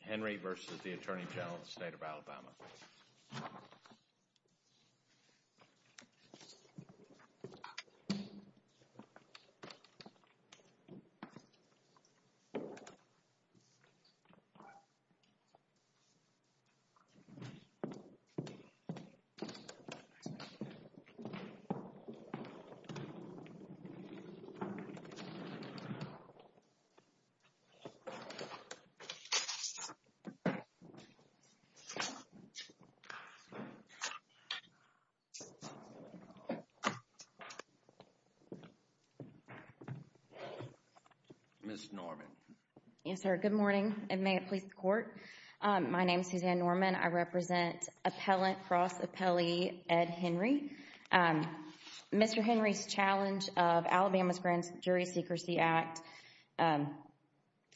Henry v. The Attorney General of the State of Alabama. Good morning, and may it please the Court. My name is Suzanne Norman. I represent Appellant, Cross, Appellee, Ed Henry. Mr. Henry's challenge of Alabama's Grand Jury Secrecy Act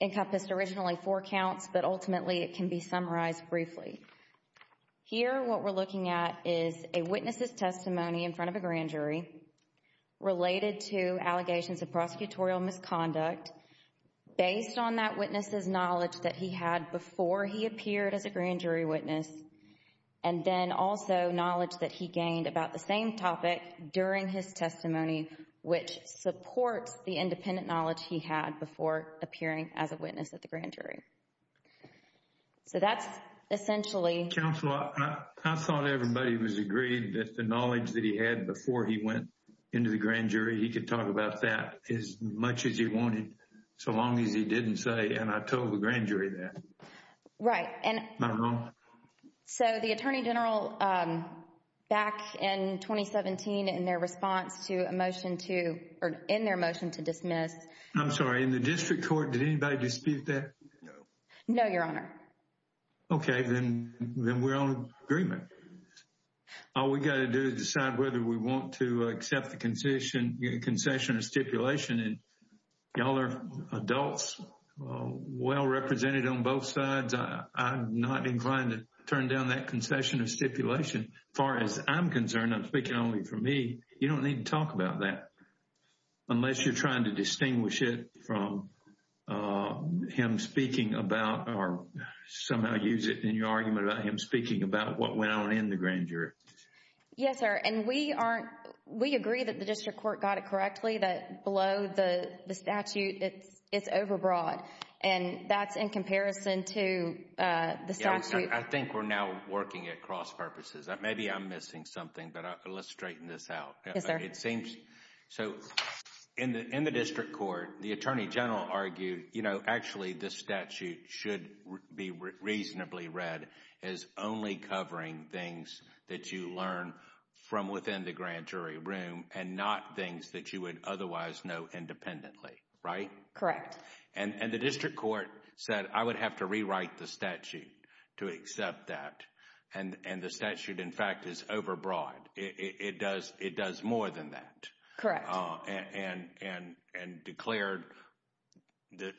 encompassed originally four counts, but ultimately it can be summarized briefly. Here what we're looking at is a witness's testimony in front of a grand jury related to allegations of prosecutorial misconduct based on that witness's knowledge that he had before he appeared as a grand jury witness, and then also knowledge that he gained about the same topic during his testimony, which supports the independent knowledge he had before appearing as a witness at the grand jury. So that's essentially... Counsel, I thought everybody was agreed that the knowledge that he had before he went into the grand jury, he could talk about that as much as he wanted, so long as he didn't say, and I told the grand jury that. Right. Am I wrong? So the Attorney General, back in 2017 in their response to a motion to, or in their motion to dismiss... I'm sorry, in the district court, did anybody dispute that? No. No, Your Honor. Okay. Then we're on agreement. All we got to do is decide whether we want to accept the concession or stipulation and y'all are adults, well-represented on both sides, I'm not inclined to turn down that concession or stipulation. As far as I'm concerned, I'm speaking only for me, you don't need to talk about that unless you're trying to distinguish it from him speaking about, or somehow use it in your argument about him speaking about what went on in the grand jury. Yes, sir. And we agree that the district court got it correctly, that below the statute, it's overbroad. And that's in comparison to the statute... I think we're now working at cross purposes. Maybe I'm missing something, but let's straighten this out. Yes, sir. It seems, so in the district court, the attorney general argued, you know, actually the statute should be reasonably read as only covering things that you learn from within the grand jury room and not things that you would otherwise know independently, right? Correct. And the district court said, I would have to rewrite the statute to accept that. And the statute, in fact, is overbroad. It does more than that. Correct. And declared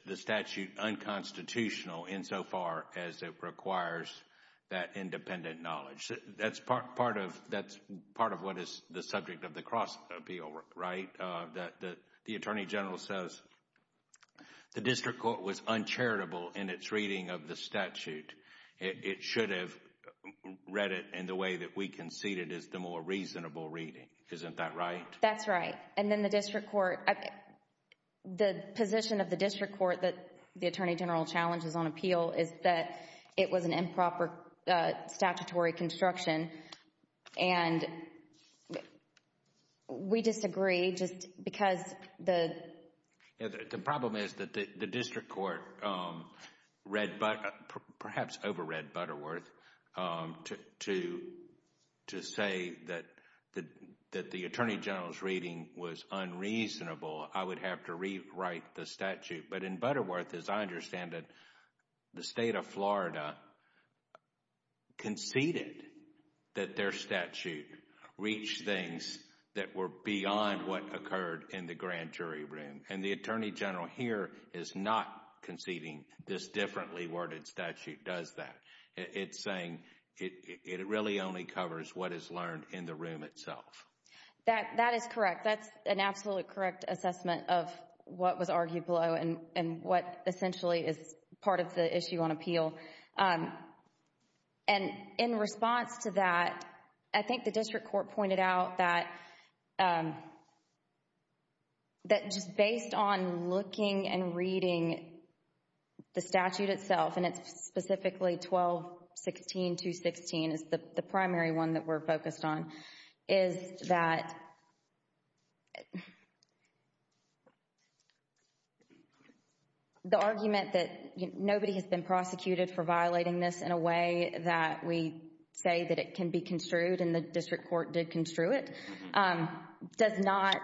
the statute unconstitutional insofar as it requires that independent knowledge. That's part of what is the subject of the cross appeal, right? The attorney general says the district court was uncharitable in its reading of the statute. It should have read it in the way that we conceded is the more reasonable reading. Isn't that right? That's right. And then the district court, the position of the district court that the attorney general challenges on appeal is that it was an improper statutory construction. And we disagree just because the... Perhaps overread Butterworth to say that the attorney general's reading was unreasonable. I would have to rewrite the statute. But in Butterworth, as I understand it, the state of Florida conceded that their statute reached things that were beyond what occurred in the grand jury room. And the attorney general here is not conceding this differently worded statute does that. It's saying it really only covers what is learned in the room itself. That is correct. That's an absolutely correct assessment of what was argued below and what essentially is part of the issue on appeal. And in response to that, I think the district court pointed out that just based on looking and reading the statute itself, and it's specifically 12.16.216 is the primary one that we're focused on, is that the argument that nobody has been prosecuted for violating this in a way that we say that it can be construed and the district court did construe it, does not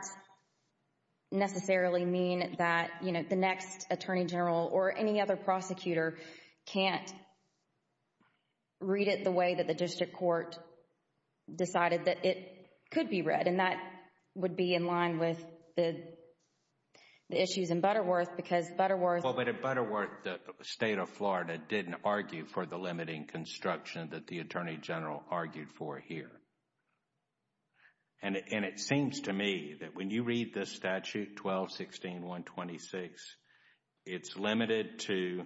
necessarily mean that, you know, the next attorney general or any other prosecutor can't read it the way that the district court decided that it could be read. And that would be in line with the issues in Butterworth because Butterworth Well, but at Butterworth, the state of Florida didn't argue for the limiting construction that the attorney general argued for here. And it seems to me that when you read this statute 12.16.126, it's limited to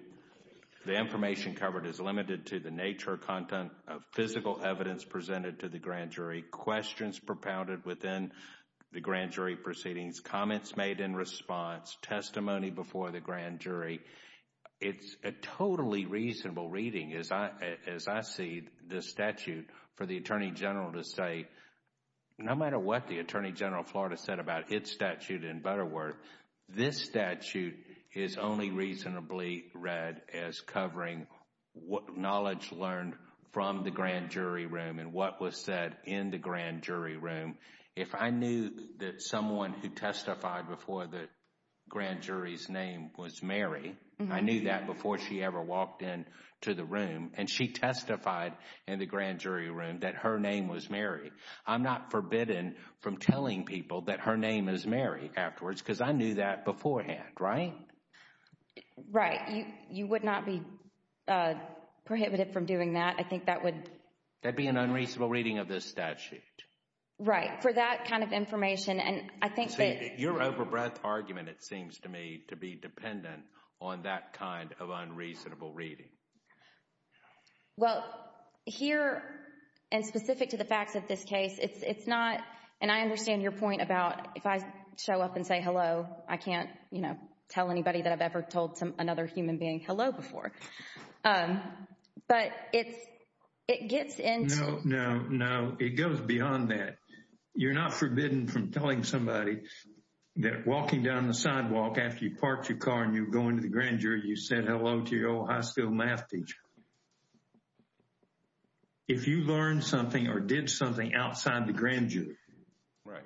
the information covered is limited to the nature or content of physical evidence presented to the grand jury, questions propounded within the grand jury proceedings, comments made in response, testimony before the grand jury. It's a totally reasonable reading as I see the statute for the attorney general to say no matter what the attorney general of Florida said about its statute in Butterworth, this statute is only reasonably read as covering what knowledge learned from the grand jury room and what was said in the grand jury room. If I knew that someone who testified before the grand jury's name was Mary, I knew that before she ever walked in to the room and she testified in the grand jury room that her name was Mary, I'm not forbidden from telling people that her name is Mary afterwards because I knew that beforehand, right? Right. You would not be prohibited from doing that. I think that would. That'd be an unreasonable reading of this statute. Right. For that kind of information. And I think that. Your over-breadth argument, it seems to me, to be dependent on that kind of unreasonable reading. Well, here and specific to the facts of this case, it's not, and I understand your point about if I show up and say hello, I can't, you know, tell anybody that I've ever told another human being hello before. But it's, it gets into. No, no, no. It goes beyond that. You're not forbidden from telling somebody that walking down the sidewalk after you parked your car and you go into the grand jury, you said hello to your old high school math teacher. If you learned something or did something outside the grand jury. Right.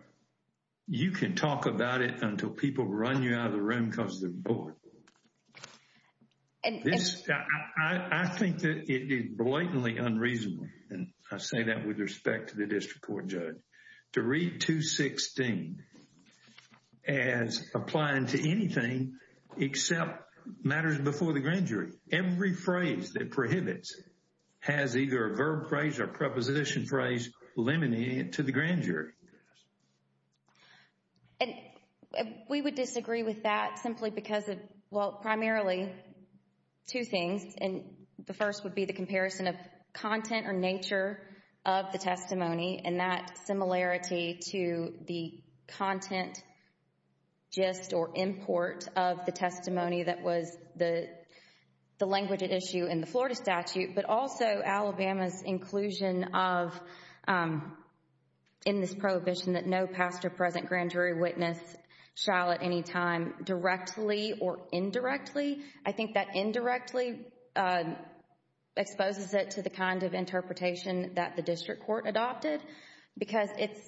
You can talk about it until people run you out of the room because they're bored. And this, I think that it is blatantly unreasonable. And I say that with respect to the district court judge. To read 216 as applying to anything except matters before the grand jury. Every phrase that prohibits has either a verb phrase or preposition phrase limiting it to the grand jury. We would disagree with that simply because of, well, primarily two things. And the first would be the comparison of content or nature of the testimony and that similarity to the content, gist or import of the testimony that was the language at issue in the Florida statute, but also Alabama's inclusion of in this prohibition that no past or present grand jury witness shall at any time directly or indirectly. I think that indirectly exposes it to the kind of interpretation that the district court adopted because it's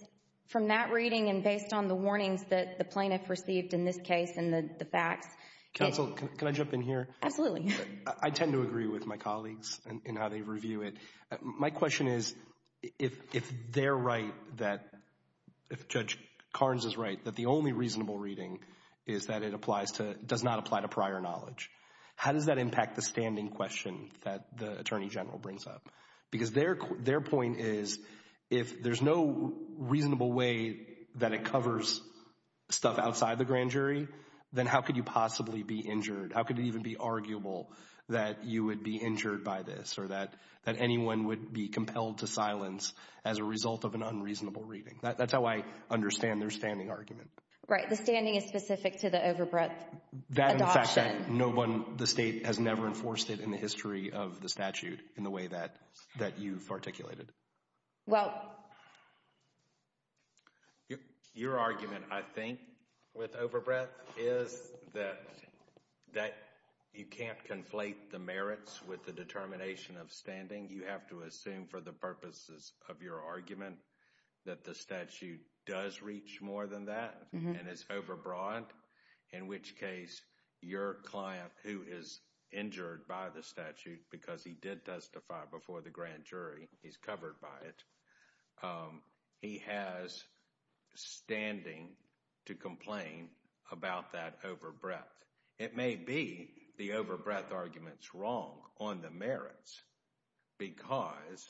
from that reading and based on the warnings that the plaintiff received in this case and the facts. Counsel, can I jump in here? Absolutely. I tend to agree with my colleagues in how they review it. My question is, if they're right that, if Judge Carnes is right, that the only reasonable reading is that it applies to, does not apply to prior knowledge, how does that impact the standing question that the Attorney General brings up? Because their point is, if there's no reasonable way that it covers stuff outside the grand jury, then how could you possibly be injured? How could it even be arguable that you would be injured by this or that anyone would be compelled to silence as a result of an unreasonable reading? That's how I understand their standing argument. Right. The standing is specific to the overbreadth adoption. That and the fact that no one, the state has never enforced it in the history of the statute in the way that you've articulated. Well, your argument, I think, with overbreadth is that you can't conflate the merits with the determination of standing. You have to assume for the purposes of your argument that the statute does reach more than that and is overbroad, in which case your client who is injured by the statute because he did testify before the grand jury, he's covered by it, he has standing to complain about that overbreadth. It may be the overbreadth argument's wrong on the merits because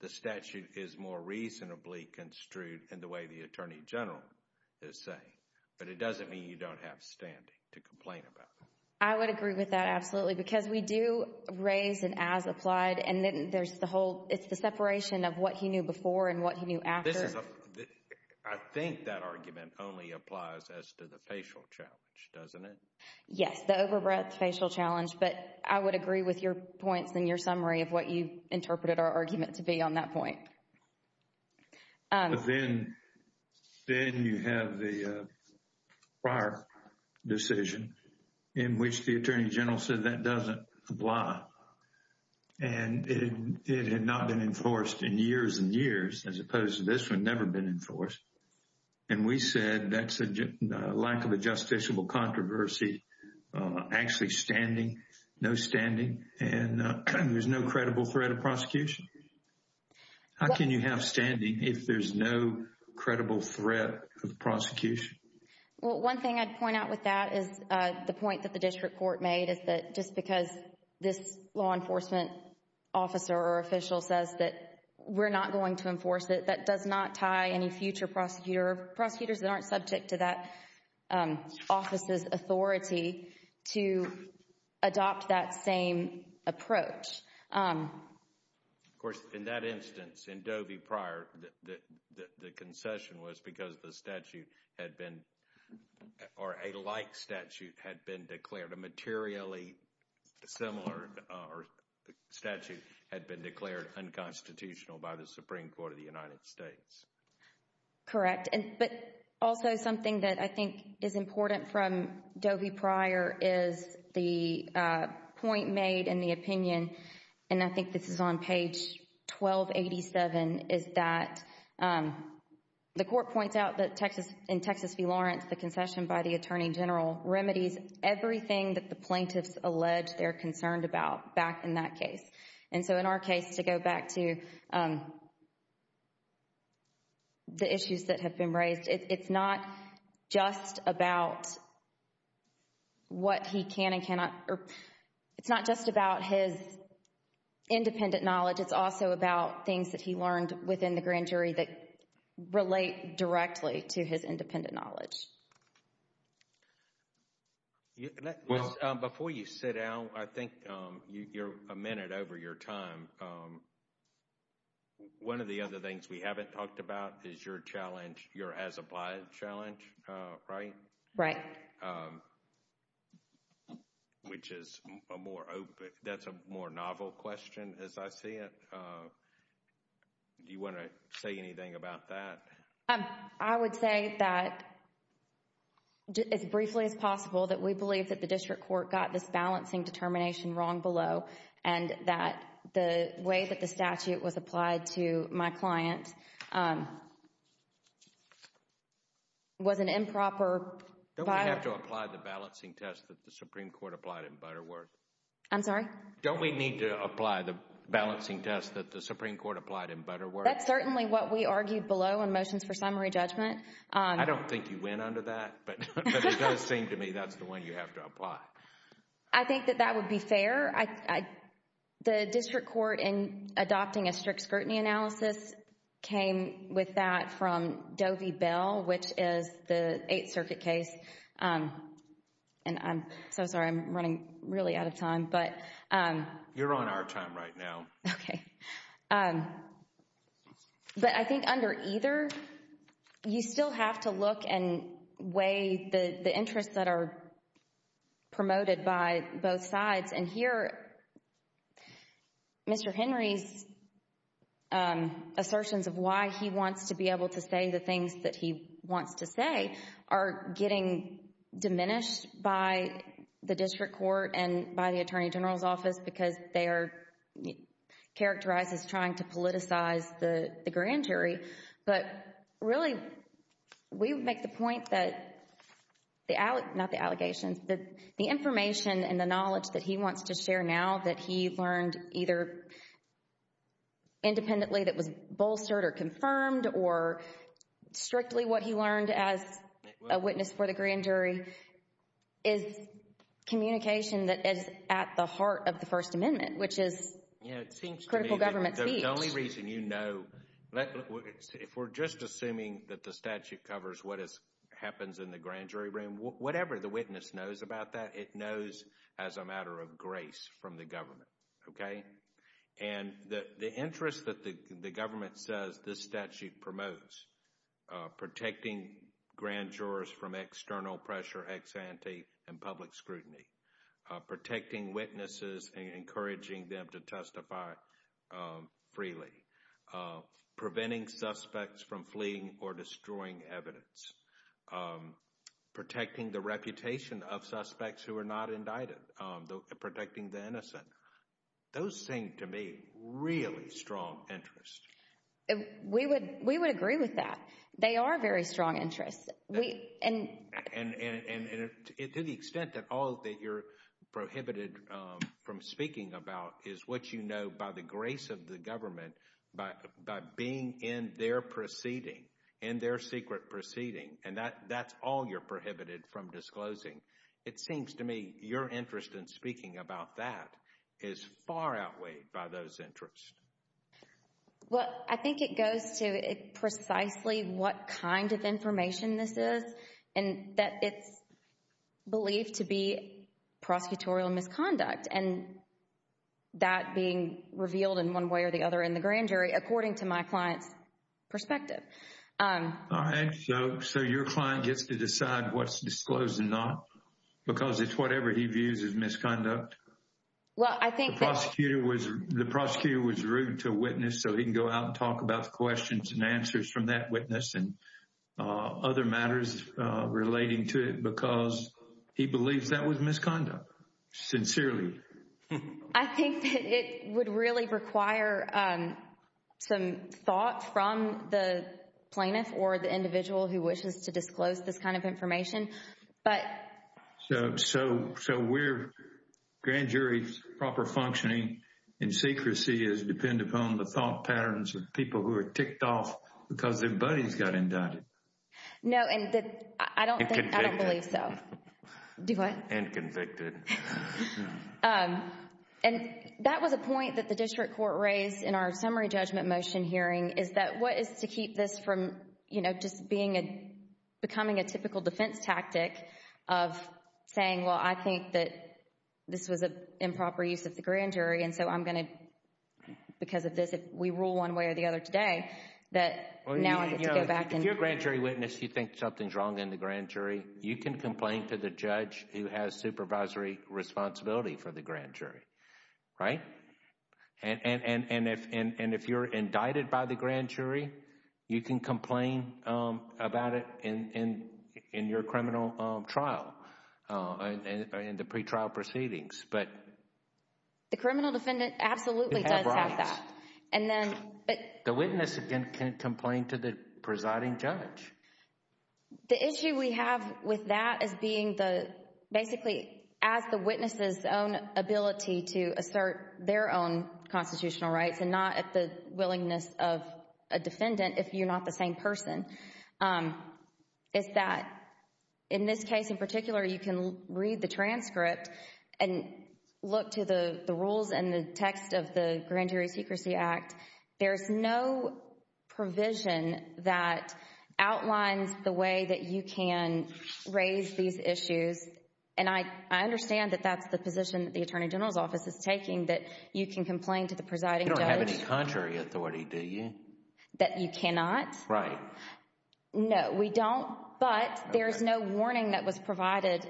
the statute is more reasonably construed in the way the Attorney General is saying, but it doesn't mean you don't have standing to complain about it. I would agree with that, absolutely. Because we do raise an as applied and then there's the whole, it's the separation of what he knew before and what he knew after. I think that argument only applies as to the facial challenge, doesn't it? Yes, the overbreadth facial challenge, but I would agree with your points in your summary of what you interpreted our argument to be on that point. But then you have the prior decision in which the Attorney General said that doesn't apply. And it had not been enforced in years and years as opposed to this one, never been enforced. And we said that's a lack of a justiciable controversy, actually standing, no standing, and there's no credible threat of prosecution. How can you have standing if there's no credible threat of prosecution? Well, one thing I'd point out with that is the point that the district court made is that just because this law enforcement officer or official says that we're not going to enforce it, that does not tie any future prosecutor, prosecutors that aren't subject to that office's authority to adopt that same approach. Of course, in that instance, in Doe v. Pryor, the concession was because the statute had been, or a like statute had been declared, a materially similar statute had been declared unconstitutional by the Supreme Court of the United States. Correct, but also something that I think is important from Doe v. Pryor is the point made in the opinion, and I think this is on page 1287, is that the court points out that in Texas v. Lawrence, the concession by the attorney general remedies everything that the plaintiffs allege they're concerned about back in that case. And so in our case, to go back to the issues that have been raised, it's not just about what he can and cannot, or it's not just about his independent knowledge, it's also about things that he learned within the grand jury that relate directly to his independent knowledge. Before you sit down, I think you're a minute over your time. One of the other things we haven't talked about is your challenge, your as-applied challenge, right? Right. Which is a more open, that's a more novel question as I see it. Do you want to say anything about that? I would say that, as briefly as possible, that we believe that the district court got this balancing determination wrong below, and that the way that the statute was applied to my client was an improper— Don't we have to apply the balancing test that the Supreme Court applied in Butterworth? I'm sorry? Don't we need to apply the balancing test that the Supreme Court applied in Butterworth? That's certainly what we argued below in Motions for Summary Judgment. I don't think you went under that, but it does seem to me that's the one you have to apply. I think that that would be fair. I think under either, the district court in adopting a strict scrutiny analysis came with that from Doe v. Bell, which is the Eighth Circuit case, and I'm so sorry, I'm running really out of time, but— You're on our time right now. Okay. But I think under either, you still have to look and weigh the interests that are promoted by both sides, and here, Mr. Henry's assertions of why he wants to be able to say the things that he wants to say are getting diminished by the district court and by the Attorney General's office because they are characterized as trying to politicize the grand jury, but really, we make the point that the—not the allegations, but the information and the knowledge that he wants to share now that he learned either independently that was bolstered or confirmed or strictly what he learned as a witness for the grand jury is communication that is at the heart of the First Amendment, which is critical government speech. The only reason you know—if we're just assuming that the statute covers what happens in the grand jury room, whatever the witness knows about that, it knows as a matter of grace from the government, okay? And the interest that the government says this statute promotes, protecting grand jurors from external pressure, ex ante, and public scrutiny, protecting witnesses and encouraging them to testify freely, preventing suspects from fleeing or destroying evidence, protecting the reputation of suspects who are not indicted, protecting the innocent. Those seem to me really strong interests. We would agree with that. They are very strong interests. And to the extent that all that you're prohibited from speaking about is what you know by the grace of the government, by being in their proceeding, in their secret proceeding, and that's all you're prohibited from disclosing. It seems to me your interest in speaking about that is far outweighed by those interests. Well, I think it goes to precisely what kind of information this is, and that it's believed to be prosecutorial misconduct, and that being revealed in one way or the other in the grand jury, according to my client's perspective. All right, so your client gets to decide what's disclosed and not? Because it's whatever he views as misconduct? Well, I think that... The prosecutor was rude to a witness, so he can go out and talk about the questions and answers from that witness and other matters relating to it because he believes that was misconduct, sincerely. I think that it would really require some thought from the plaintiff or the individual who wishes to disclose this kind of information, but... So we're grand jury's proper functioning and secrecy is depend upon the thought patterns of people who are ticked off because their buddies got indicted. No, and I don't think, I don't believe so. Do what? And convicted. And that was a point that the district court raised in our summary judgment motion hearing, is that what is to keep this from just becoming a typical defense tactic of saying, well, I think that this was an improper use of the grand jury, and so I'm going to, because of this, if we rule one way or the other today, that now I get to go back and... If you're a grand jury witness, you think something's wrong in the grand jury, you can complain to the judge who has supervisory responsibility for the grand jury, right? And if you're indicted by the grand jury, you can complain about it in your criminal trial, in the pretrial proceedings, but... The criminal defendant absolutely does have that. And then... The witness can complain to the presiding judge. The issue we have with that is being the, basically, as the witness's own ability to defend constitutional rights, and not at the willingness of a defendant if you're not the same person, is that, in this case in particular, you can read the transcript and look to the rules and the text of the Grand Jury Secrecy Act. There's no provision that outlines the way that you can raise these issues. And I understand that that's the position that the Attorney General's Office is taking, that you can complain to the presiding judge. You don't have any contrary authority, do you? That you cannot? Right. No, we don't, but there's no warning that was provided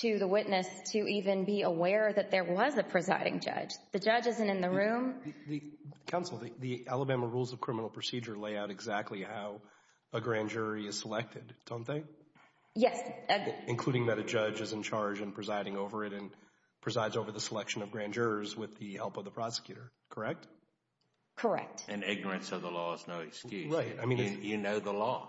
to the witness to even be aware that there was a presiding judge. The judge isn't in the room. Counsel, the Alabama Rules of Criminal Procedure lay out exactly how a grand jury is selected, don't they? Yes. Including that a judge is in charge and presiding over it, and presides over the selection of the help of the prosecutor, correct? Correct. And ignorance of the law is no excuse. You know the law.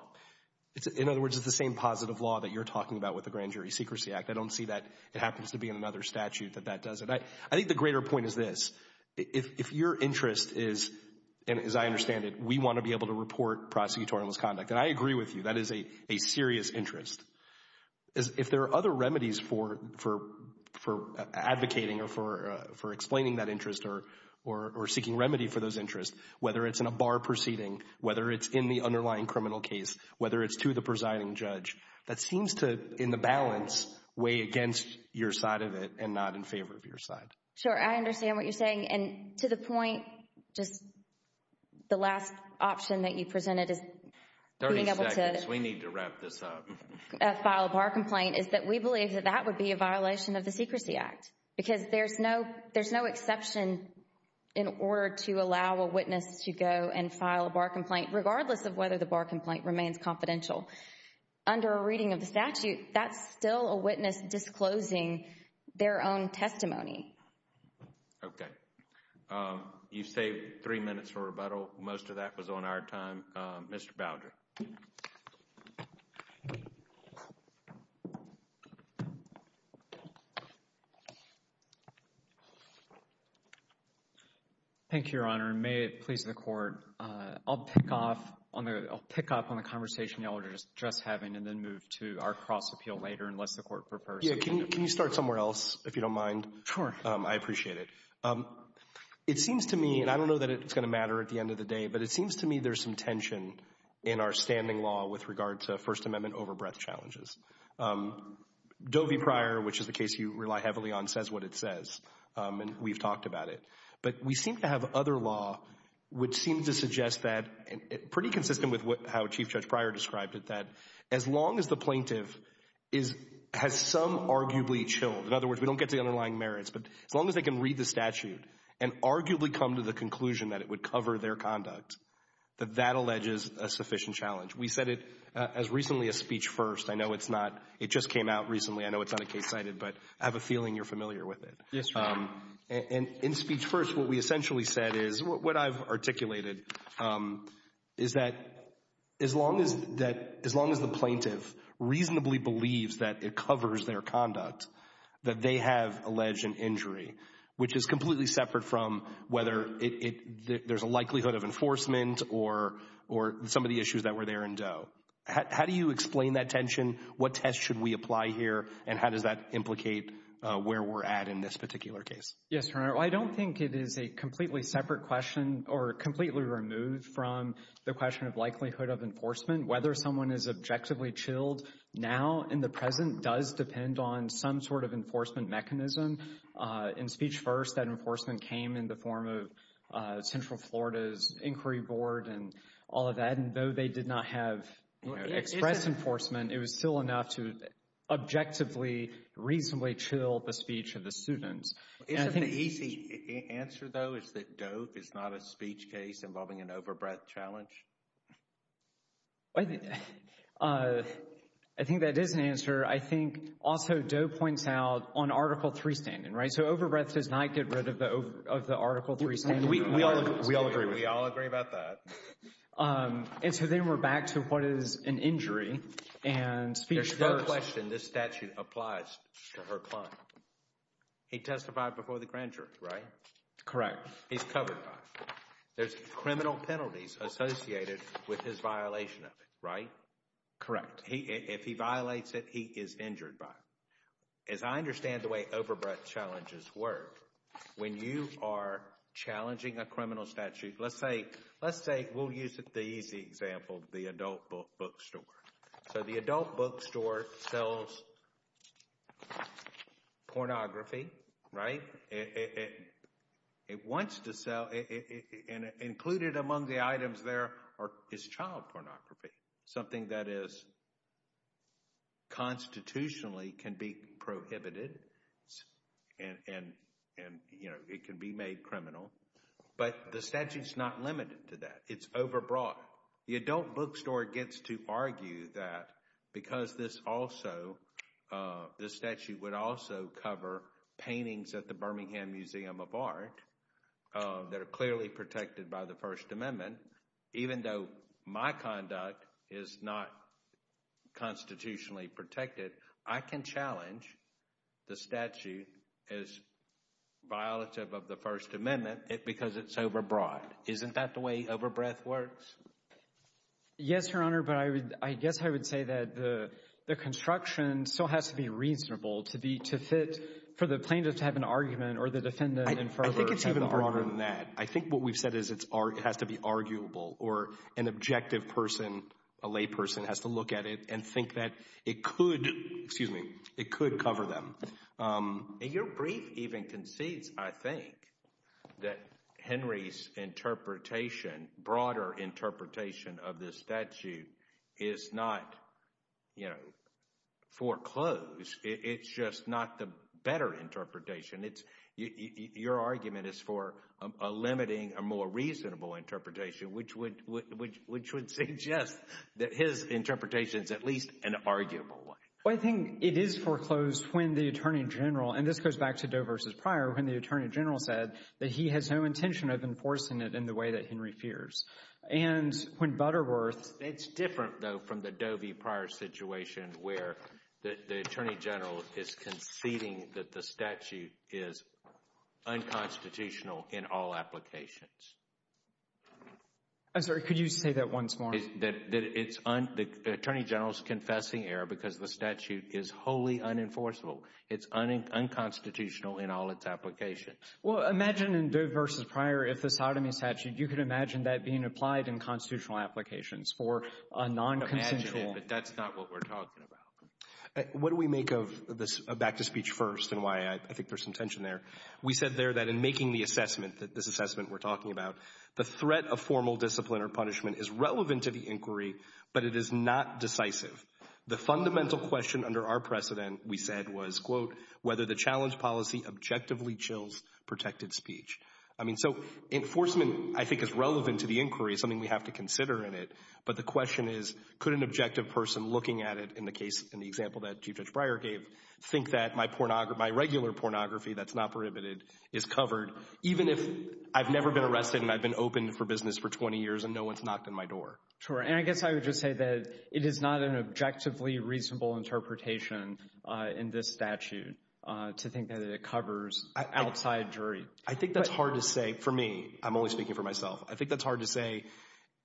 In other words, it's the same positive law that you're talking about with the Grand Jury Secrecy Act. I don't see that it happens to be in another statute that that does it. I think the greater point is this. If your interest is, and as I understand it, we want to be able to report prosecutorial misconduct, and I agree with you, that is a serious interest. If there are other remedies for advocating or for explaining that interest or seeking remedy for those interests, whether it's in a bar proceeding, whether it's in the underlying criminal case, whether it's to the presiding judge, that seems to, in the balance, weigh against your side of it and not in favor of your side. Sure. I understand what you're saying. And to the point, just the last option that you presented is being able to— 30 seconds. We need to wrap this up. —file a bar complaint is that we believe that that would be a violation of the Secrecy Act because there's no exception in order to allow a witness to go and file a bar complaint, regardless of whether the bar complaint remains confidential. Under a reading of the statute, that's still a witness disclosing their own testimony. You've saved three minutes for rebuttal. Most of that was on our time. Mr. Boudreaux. Thank you, Your Honor, and may it please the Court, I'll pick off on the — I'll pick up on the conversation y'all were just having and then move to our cross-appeal later, unless the Court prefers to— Yeah. Can you start somewhere else, if you don't mind? Sure. I appreciate it. It seems to me, and I don't know that it's going to matter at the end of the day, but it seems to me there's some tension in our standing law with regard to First Amendment overbreadth challenges. Doe v. Pryor, which is a case you rely heavily on, says what it says, and we've talked about it. But we seem to have other law which seems to suggest that, pretty consistent with how Chief Judge Pryor described it, that as long as the plaintiff is — has some arguably chilled — in other words, we don't get to the underlying merits, but as long as they can read the statute and arguably come to the conclusion that it would cover their conduct, that that alleges a sufficient challenge. We said it as recently as Speech First. I know it's not — it just came out recently. I know it's not a case cited, but I have a feeling you're familiar with it. Yes, Your Honor. And in Speech First, what we essentially said is — what I've articulated is that as long as — that as long as the plaintiff reasonably believes that it covers their conduct, that they have alleged an injury, which is completely separate from whether it — there's a likelihood of enforcement or some of the issues that were there in Doe. How do you explain that tension? What test should we apply here, and how does that implicate where we're at in this particular case? Yes, Your Honor. Well, I don't think it is a completely separate question or completely removed from the question of likelihood of enforcement. Whether someone is objectively chilled now in the present does depend on some sort of enforcement mechanism. In Speech First, that enforcement came in the form of Central Florida's Inquiry Board and all of that, and though they did not have, you know, express enforcement, it was still enough to objectively, reasonably chill the speech of the student. Isn't the easy answer, though, is that Doe is not a speech case involving an overbreadth challenge? I think that is an answer. I think also Doe points out on Article 3 standing, right, so overbreadth does not get rid of the Article 3 standing. We all agree. We all agree about that. And so then we're back to what is an injury, and Speech First — There's no question this statute applies to her client. He testified before the grand jury, right? Correct. He's covered by it. There's criminal penalties associated with his violation of it, right? Correct. If he violates it, he is injured by it. As I understand the way overbreadth challenges work, when you are challenging a criminal statute, let's say — let's say we'll use the easy example, the adult bookstore. So the adult bookstore sells pornography, right? It wants to sell, and included among the items there is child pornography, something that is constitutionally can be prohibited, and, you know, it can be made criminal. But the statute is not limited to that. It's overbroad. The adult bookstore gets to argue that because this also — this statute would also cover paintings at the Birmingham Museum of Art that are clearly protected by the First Amendment, even though my conduct is not constitutionally protected, I can challenge the statute as violative of the First Amendment because it's overbroad. Isn't that the way overbreadth works? Yes, Your Honor, but I guess I would say that the construction still has to be reasonable to be — to fit for the plaintiff to have an argument or the defendant in further — I think it's even broader than that. I think what we've said is it has to be arguable or an objective person, a layperson, has to look at it and think that it could — excuse me — it could cover them. And your brief even concedes, I think, that Henry's interpretation, broader interpretation of this statute is not, you know, foreclosed. It's just not the better interpretation. It's — your argument is for a limiting, a more reasonable interpretation, which would suggest that his interpretation is at least an arguable one. Well, I think it is foreclosed when the attorney general — and this goes back to Doe v. Pryor — when the attorney general said that he has no intention of enforcing it in the way that Henry fears. And when Butterworth — It's different, though, from the Doe v. Pryor situation where the attorney general is conceding that the statute is unconstitutional in all applications. I'm sorry. Could you say that once more? That it's — the attorney general is confessing error because the statute is wholly unenforceable. It's unconstitutional in all its applications. Well, imagine in Doe v. Pryor, if the sodomy statute, you could imagine that being applied in constitutional applications for a non-consensual — But that's not what we're talking about. What do we make of this back-to-speech first and why I think there's some tension there? We said there that in making the assessment, this assessment we're talking about, the threat of formal discipline or punishment is relevant to the inquiry, but it is not decisive. The fundamental question under our precedent, we said, was, quote, whether the challenge policy objectively chills protected speech. I mean, so enforcement, I think, is relevant to the inquiry. It's something we have to consider in it. But the question is, could an objective person looking at it in the case, in the example that Chief Judge Pryor gave, think that my regular pornography that's not prohibited is covered, even if I've never been arrested and I've been open for business for 20 years and no one's knocked on my door? Sure. And I guess I would just say that it is not an objectively reasonable interpretation in this statute to think that it covers outside jury. I think that's hard to say. For me, I'm only speaking for myself. I think that's hard to say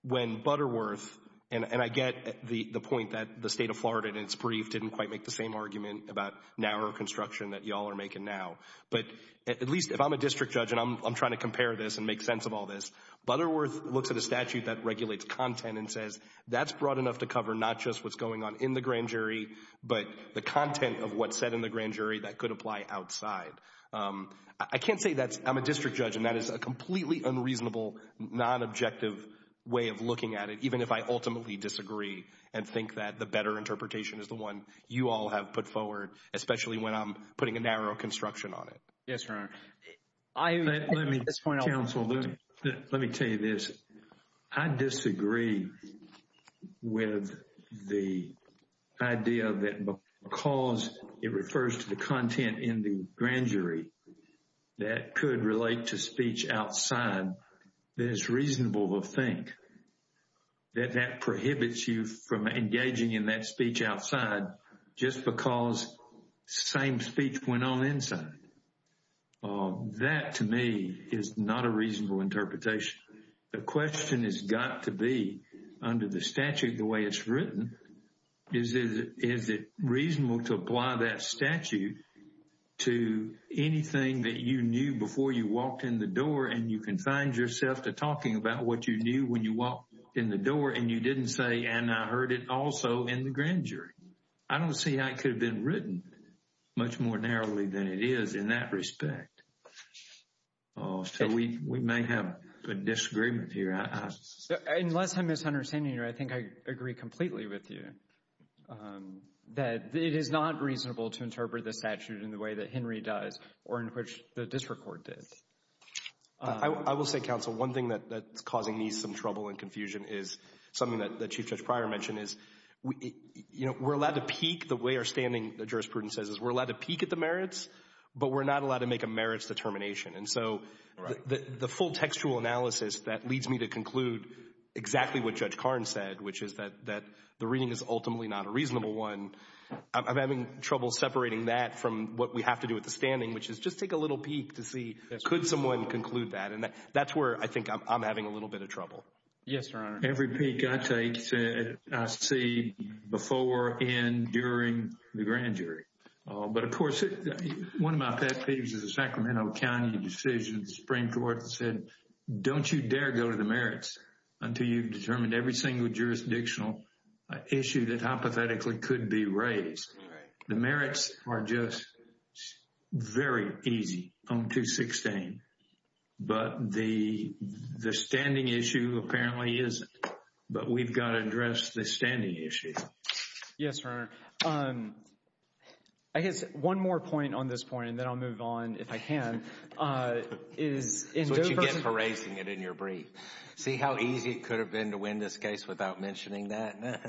when Butterworth, and I get the point that the state of Florida in its brief didn't quite make the same argument about narrower construction that y'all are making now. But at least if I'm a district judge and I'm trying to compare this and make sense of all this, Butterworth looks at a statute that regulates content and says that's broad enough to cover not just what's going on in the grand jury, but the content of what's said in the grand jury that could apply outside. I can't say that I'm a district judge and that is a completely unreasonable, non-objective way of looking at it, even if I ultimately disagree and think that the better interpretation is the one you all have put forward, especially when I'm putting a narrow construction on it. Yes, Your Honor. Let me tell you this. I disagree with the idea that because it refers to the content in the grand jury that could relate to speech outside, that it's reasonable to think that that prohibits you from engaging in that speech outside just because same speech went on inside. That to me is not a reasonable interpretation. The question has got to be under the statute the way it's written, is it reasonable to apply that statute to anything that you knew before you walked in the door and you confined yourself to talking about what you knew when you walked in the door and you didn't say, and I heard it also in the grand jury. I don't see how it could have been written much more narrowly than it is in that respect. Oh, so we may have a disagreement here. Unless I'm misunderstanding you, I think I agree completely with you that it is not reasonable to interpret the statute in the way that Henry does or in which the district court did. I will say, counsel, one thing that's causing me some trouble and confusion is something that the Chief Judge Pryor mentioned is, you know, we're allowed to peek the way our standing, the jurisprudence says, is we're allowed to peek at the merits, but we're not allowed to make a merits determination. And so the full textual analysis that leads me to conclude exactly what Judge Karn said, which is that the reading is ultimately not a reasonable one, I'm having trouble separating that from what we have to do with the standing, which is just take a little peek to see could someone conclude that. And that's where I think I'm having a little bit of trouble. Yes, Your Honor. Every peek I take, I see before and during the grand jury. But of course, one of my pet peeves is the Sacramento County decision. The Supreme Court said, don't you dare go to the merits until you've determined every single jurisdictional issue that hypothetically could be raised. The merits are just very easy on 216. But the standing issue apparently isn't. But we've got to address the standing issue. Yes, Your Honor. I guess one more point on this point, and then I'll move on if I can. That's what you get for raising it in your brief. See how easy it could have been to win this case without mentioning that?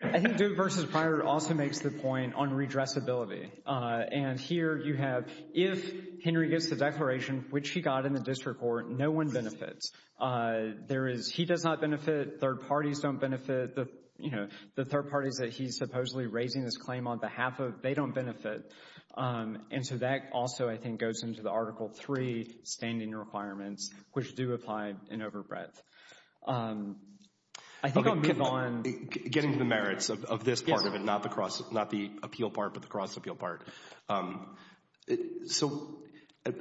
I think Duke v. Pryor also makes the point on redressability. And here you have, if Henry gets the declaration, which he got in the district court, no one benefits. There is, he does not benefit, third parties don't benefit. The third parties that he's supposedly raising this claim on behalf of, they don't benefit. And so that also, I think, goes into the Article 3 standing requirements, which do apply in overbreadth. I think I'll move on. Getting to the merits of this part of it, not the appeal part, but the cross appeal part. So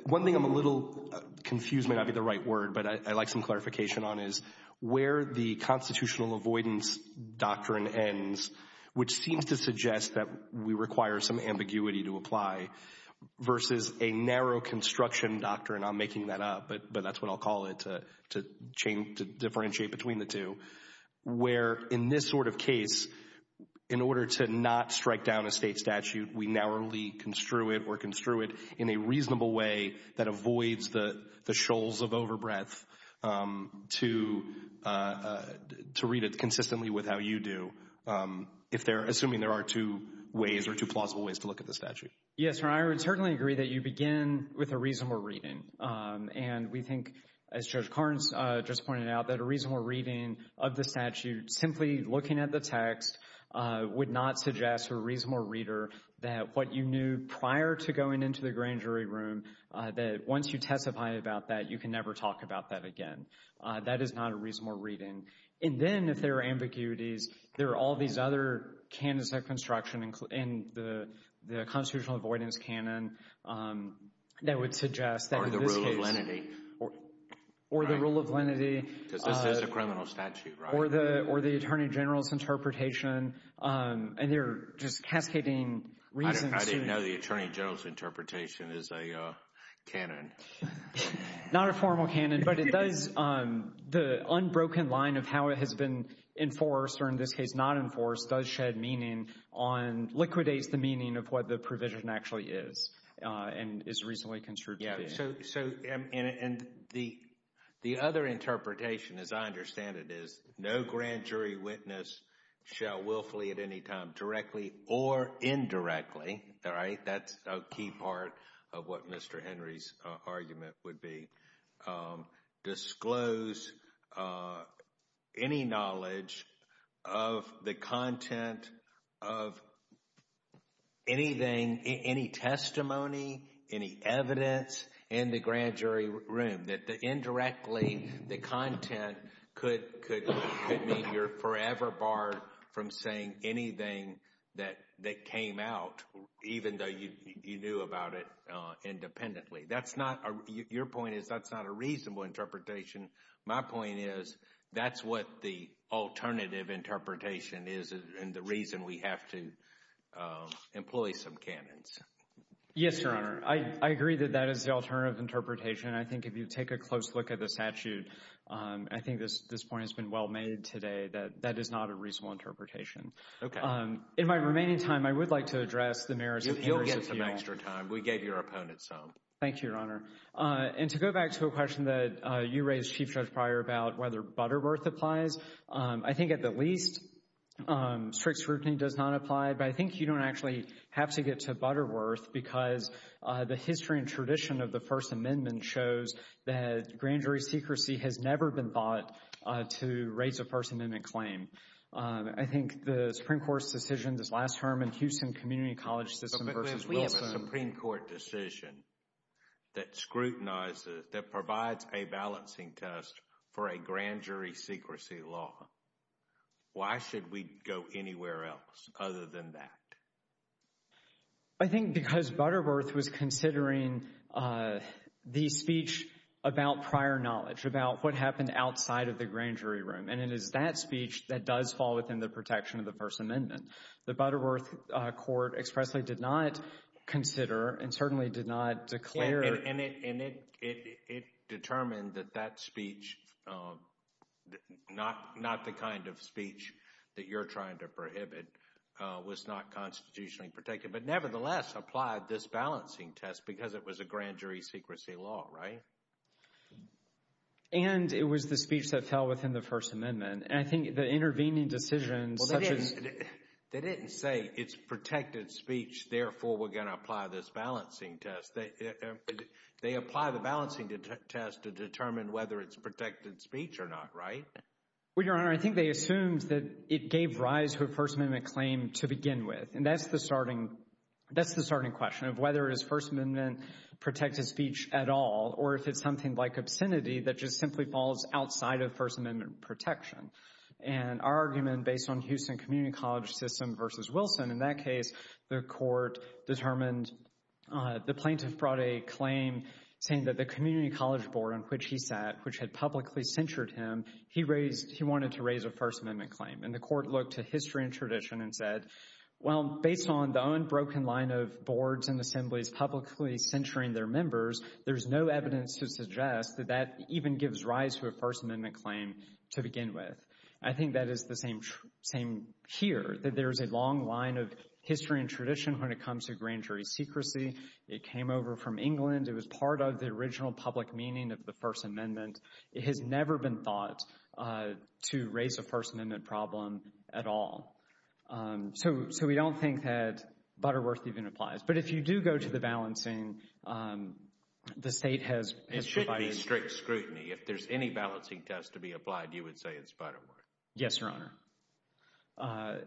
one thing I'm a little confused, may not be the right word, but I'd like some clarification on is where the constitutional avoidance doctrine ends, which seems to suggest that we require some ambiguity to apply, versus a narrow construction doctrine. I'm making that up, but that's what I'll call it to differentiate between the two. Where in this sort of case, in order to not strike down a state statute, we narrowly or construe it in a reasonable way that avoids the shoals of overbreadth to read it consistently with how you do. If they're assuming there are two ways or two plausible ways to look at the statute. Yes, and I would certainly agree that you begin with a reasonable reading. And we think, as Judge Carnes just pointed out, that a reasonable reading of the statute, simply looking at the text, would not suggest a reasonable reader that what you knew prior to going into the grand jury room, that once you testify about that, you can never talk about that again. That is not a reasonable reading. And then, if there are ambiguities, there are all these other canons of construction in the constitutional avoidance canon that would suggest that in this case. Or the rule of lenity. Or the rule of lenity. Because this is a criminal statute, right? Or the Attorney General's interpretation, and they're just cascading reasons. I didn't know the Attorney General's interpretation is a canon. Not a formal canon, but it does, the unbroken line of how it has been enforced, or in this case not enforced, does shed meaning on, liquidates the meaning of what the provision actually is and is reasonably construed to be. So, and the other interpretation, as I understand it, is no grand jury witness shall willfully at any time, directly or indirectly, all right? That's a key part of what Mr. Henry's argument would be. Disclose any knowledge of the content of anything, any testimony, any evidence in the grand jury room. That indirectly, the content could mean you're forever barred from saying anything that came out, even though you knew about it independently. That's not, your point is, that's not a reasonable interpretation. My point is, that's what the alternative interpretation is, and the reason we have to employ some canons. Yes, Your Honor. I agree that that is the alternative interpretation. I think if you take a close look at the statute, I think this point has been well made today, that that is not a reasonable interpretation. Okay. In my remaining time, I would like to address the merits of Henry's appeal. You'll get some extra time. We gave your opponent some. Thank you, Your Honor. And to go back to a question that you raised, Chief Judge Pryor, about whether Butterworth applies, I think at the least, strict scrutiny does not apply. But I think you don't actually have to get to Butterworth, because the history and tradition of the First Amendment shows that grand jury secrecy has never been bought to raise a First Amendment claim. I think the Supreme Court's decision this last term in Houston Community College System versus Wilson— that scrutinizes, that provides a balancing test for a grand jury secrecy law. Why should we go anywhere else other than that? I think because Butterworth was considering the speech about prior knowledge, about what happened outside of the grand jury room. And it is that speech that does fall within the protection of the First Amendment. The Butterworth court expressly did not consider and certainly did not declare— Yeah, and it determined that that speech, not the kind of speech that you're trying to prohibit, was not constitutionally protected. But nevertheless, applied this balancing test because it was a grand jury secrecy law, right? And it was the speech that fell within the First Amendment. And I think the intervening decisions— Well, they didn't say it's protected speech, therefore, we're going to apply this balancing test. They apply the balancing test to determine whether it's protected speech or not, right? Well, Your Honor, I think they assumed that it gave rise to a First Amendment claim to begin with. And that's the starting question of whether is First Amendment protected speech at all or if it's something like obscenity that just simply falls outside of First Amendment protection. And our argument, based on Houston Community College system versus Wilson, in that case, the court determined—the plaintiff brought a claim saying that the community college board on which he sat, which had publicly censured him, he wanted to raise a First Amendment claim. And the court looked to history and tradition and said, well, based on the unbroken line of boards and assemblies publicly censuring their members, there's no evidence to suggest that that even gives rise to a First Amendment claim to begin with. I think that is the same here, that there's a long line of history and tradition when it comes to grand jury secrecy. It came over from England. It was part of the original public meaning of the First Amendment. It has never been thought to raise a First Amendment problem at all. So we don't think that Butterworth even applies. But if you do go to the balancing, the state has— It shouldn't be strict scrutiny. If there's any balancing test to be applied, you would say it's Butterworth. Yes, Your Honor.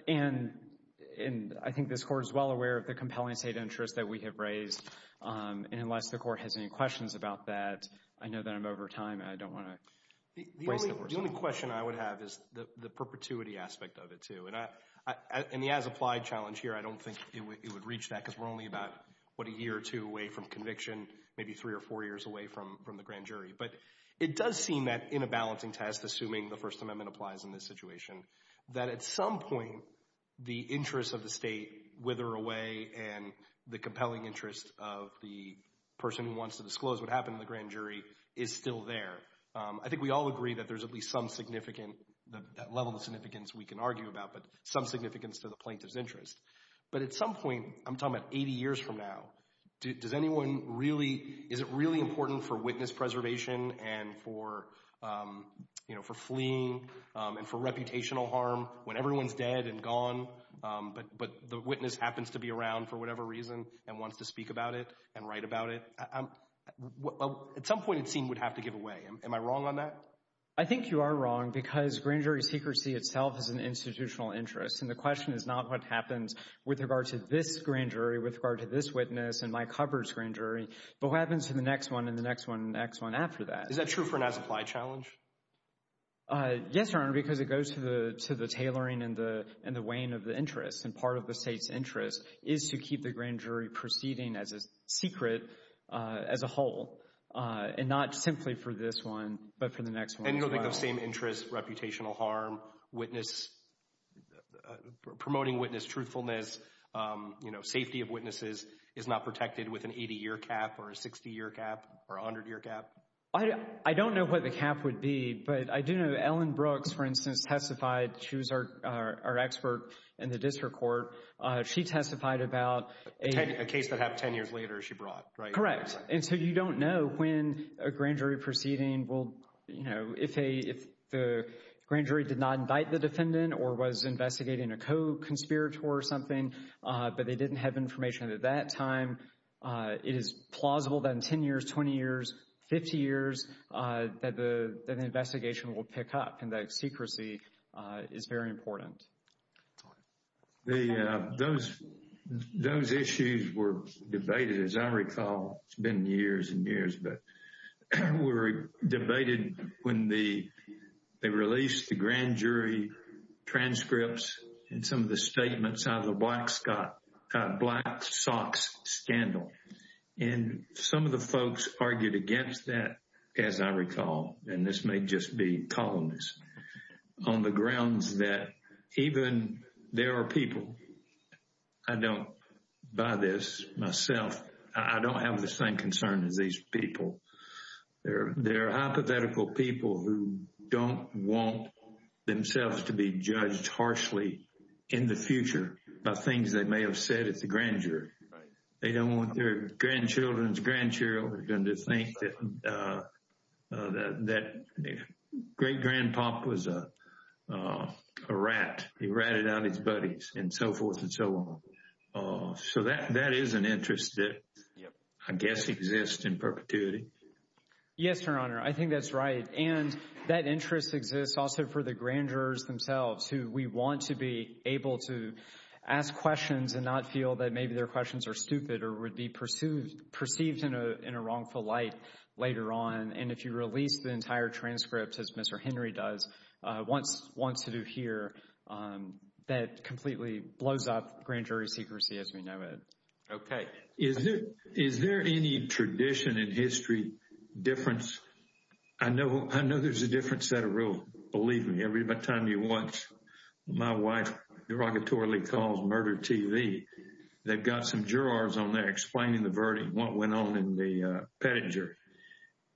And I think this court is well aware of the compelling state interest that we have raised. And unless the court has any questions about that, I know that I'm over time, and I don't want to— The only question I would have is the perpetuity aspect of it, too. And the as-applied challenge here, I don't think it would reach that because we're only about, what, a year or two away from conviction, maybe three or four years away from the grand jury. But it does seem that in a balancing test, assuming the First Amendment applies in this situation, that at some point, the interests of the state wither away and the compelling interest of the person who wants to disclose what happened in the grand jury is still there. I think we all agree that there's at least some significant—that level of significance we can argue about, but some significance to the plaintiff's interest. But at some point, I'm talking about 80 years from now, does anyone really—is it really important for witness preservation and for fleeing and for reputational harm when everyone's dead and gone, but the witness happens to be around for whatever reason and wants to speak about it and write about it? At some point, it seems we'd have to give away. Am I wrong on that? I think you are wrong because grand jury secrecy itself is an institutional interest. And the question is not what happens with regard to this grand jury, with regard to this witness and Mike Hubbard's grand jury, but what happens to the next one and the next one and the next one after that? Is that true for an as-applied challenge? Yes, Your Honor, because it goes to the tailoring and the weighing of the interests. And part of the state's interest is to keep the grand jury proceeding as a secret, as a whole, and not simply for this one, but for the next one as well. And you'll think those same interests—reputational harm, witness—promoting witness truthfulness, you know, safety of witnesses is not protected with an 80-year cap or a 60-year cap or 100-year cap? I don't know what the cap would be, but I do know Ellen Brooks, for instance, testified—she was our expert in the district court—she testified about a— A case that happened 10 years later, she brought, right? Correct. And so you don't know when a grand jury proceeding will, you know, if the grand jury did not invite the defendant or was investigating a co-conspirator or something, but they didn't have information at that time. It is plausible that in 10 years, 20 years, 50 years, that the investigation will pick up, and that secrecy is very important. The—those issues were debated, as I recall. It's been years and years, but were debated when the—they released the grand jury transcripts and some of the statements out of the Black Sox scandal. And some of the folks argued against that, as I recall, and this may just be colonists, on the grounds that even there are people—I don't buy this myself—I don't have the same concern as these people. There are hypothetical people who don't want themselves to be judged harshly in the future by things they may have said at the grand jury. They don't want their grandchildren's grandchildren to think that that great-grandpop was a rat. He ratted out his buddies and so forth and so on. So that is an interest that I guess exists in perpetuity. Yes, Your Honor, I think that's right. And that interest exists also for the grand jurors themselves, who we want to be able to ask questions and not feel that maybe their questions are stupid or would be perceived in a wrongful light later on. And if you release the entire transcript, as Mr. Henry does, wants to do here, that completely blows up grand jury secrecy as we know it. Okay. Is there any tradition in history difference? I know there's a different set of rules. Believe me, every time you watch my wife derogatorily calls murder TV, they've got some jurors on there explaining the verdict, what went on in the pettit jury.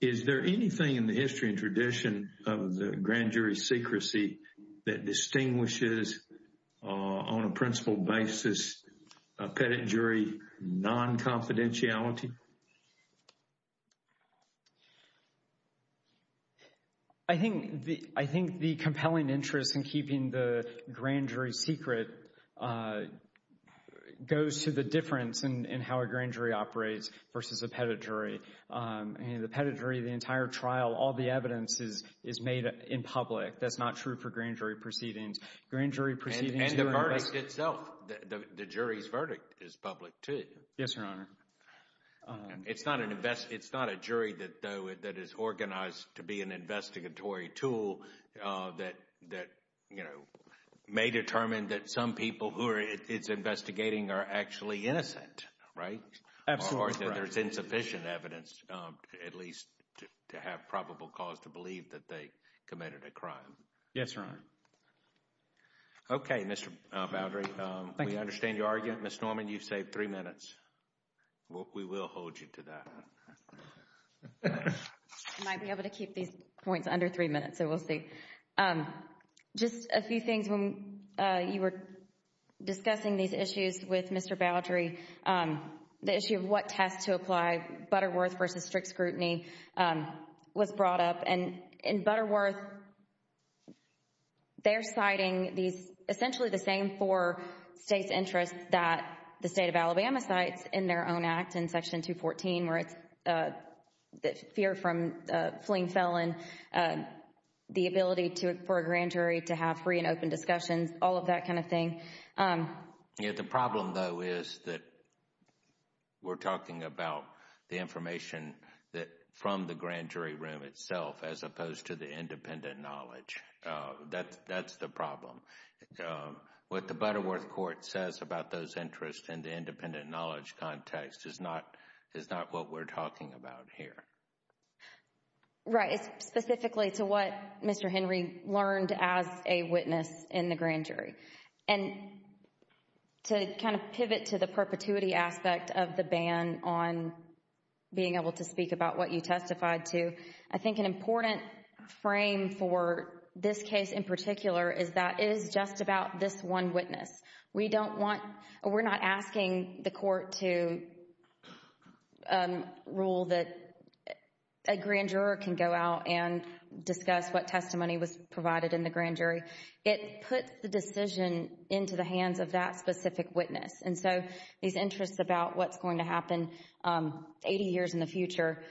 Is there anything in the history and tradition of the grand jury secrecy that distinguishes on a principal basis a pettit jury non-confidentiality? I think the compelling interest in keeping the grand jury secret goes to the difference in how a grand jury operates versus a pettit jury. I mean, the pettit jury, the entire trial, all the evidence is made in public. That's not true for grand jury proceedings. Grand jury proceedings... And the verdict itself. The jury's verdict is public too. Yes, Your Honor. It's not a jury that is organized to be an investigatory tool that may determine that some people who it's investigating are actually innocent, right? Absolutely. Or that there's insufficient evidence, at least to have probable cause to believe that they committed a crime. Yes, Your Honor. Okay, Mr. Boudry, we understand your argument. Ms. Norman, you've saved three minutes. We will hold you to that. I might be able to keep these points under three minutes, so we'll see. Just a few things. When you were discussing these issues with Mr. Boudry, the issue of what test to apply, Butterworth versus strict scrutiny was brought up. In Butterworth, they're citing essentially the same four states' interests that the state of Alabama cites in their own act, in section 214, where it's the fear from fleeing felon, the ability for a grand jury to have free and open discussions, all of that kind of thing. The problem, though, is that we're talking about the information from the grand jury room itself as opposed to the independent knowledge. That's the problem. What the Butterworth court says about those interests in the independent knowledge context is not what we're talking about here. Right, it's specifically to what Mr. Henry learned as a witness in the grand jury. To kind of pivot to the perpetuity aspect of the ban on being able to speak about what you testified to, I think an important frame for this case in particular is that it is just about this one witness. We don't want, we're not asking the court to rule that a grand juror can go out and discuss what testimony was provided in the grand jury. It puts the decision into the hands of that specific witness. These interests about what's going to happen 80 years in the future,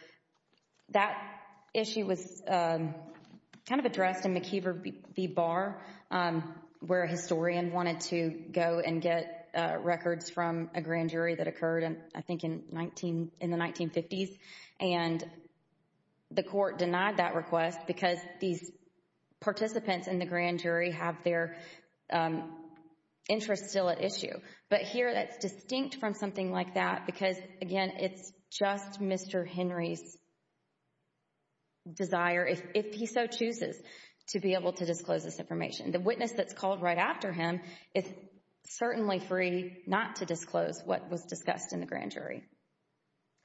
that issue was kind of addressed in McKeever v. Barr, where a historian wanted to go and get records from a grand jury that occurred, I think, in the 1950s, and the court denied that request because these participants in the grand jury have their interests still at issue. But here, that's distinct from something like that because, again, it's just Mr. Henry's desire, if he so chooses, to be able to disclose this information. The witness that's called right after him is certainly free not to disclose what was discussed in the grand jury.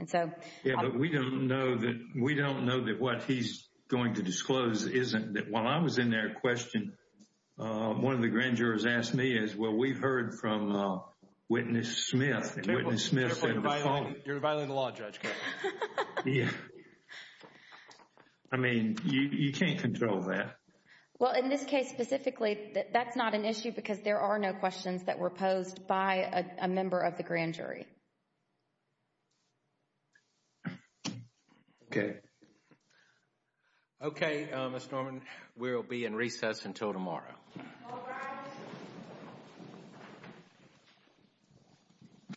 And so- Yeah, but we don't know that what he's going to disclose isn't, while I was in there asking that question, one of the grand jurors asked me is, well, we've heard from Witness Smith, and Witness Smith said- You're violating the law, Judge. I mean, you can't control that. Well, in this case specifically, that's not an issue because there are no questions that were posed by a member of the grand jury. Okay. Okay, Ms. Norman, we'll be in recess until tomorrow. All rise.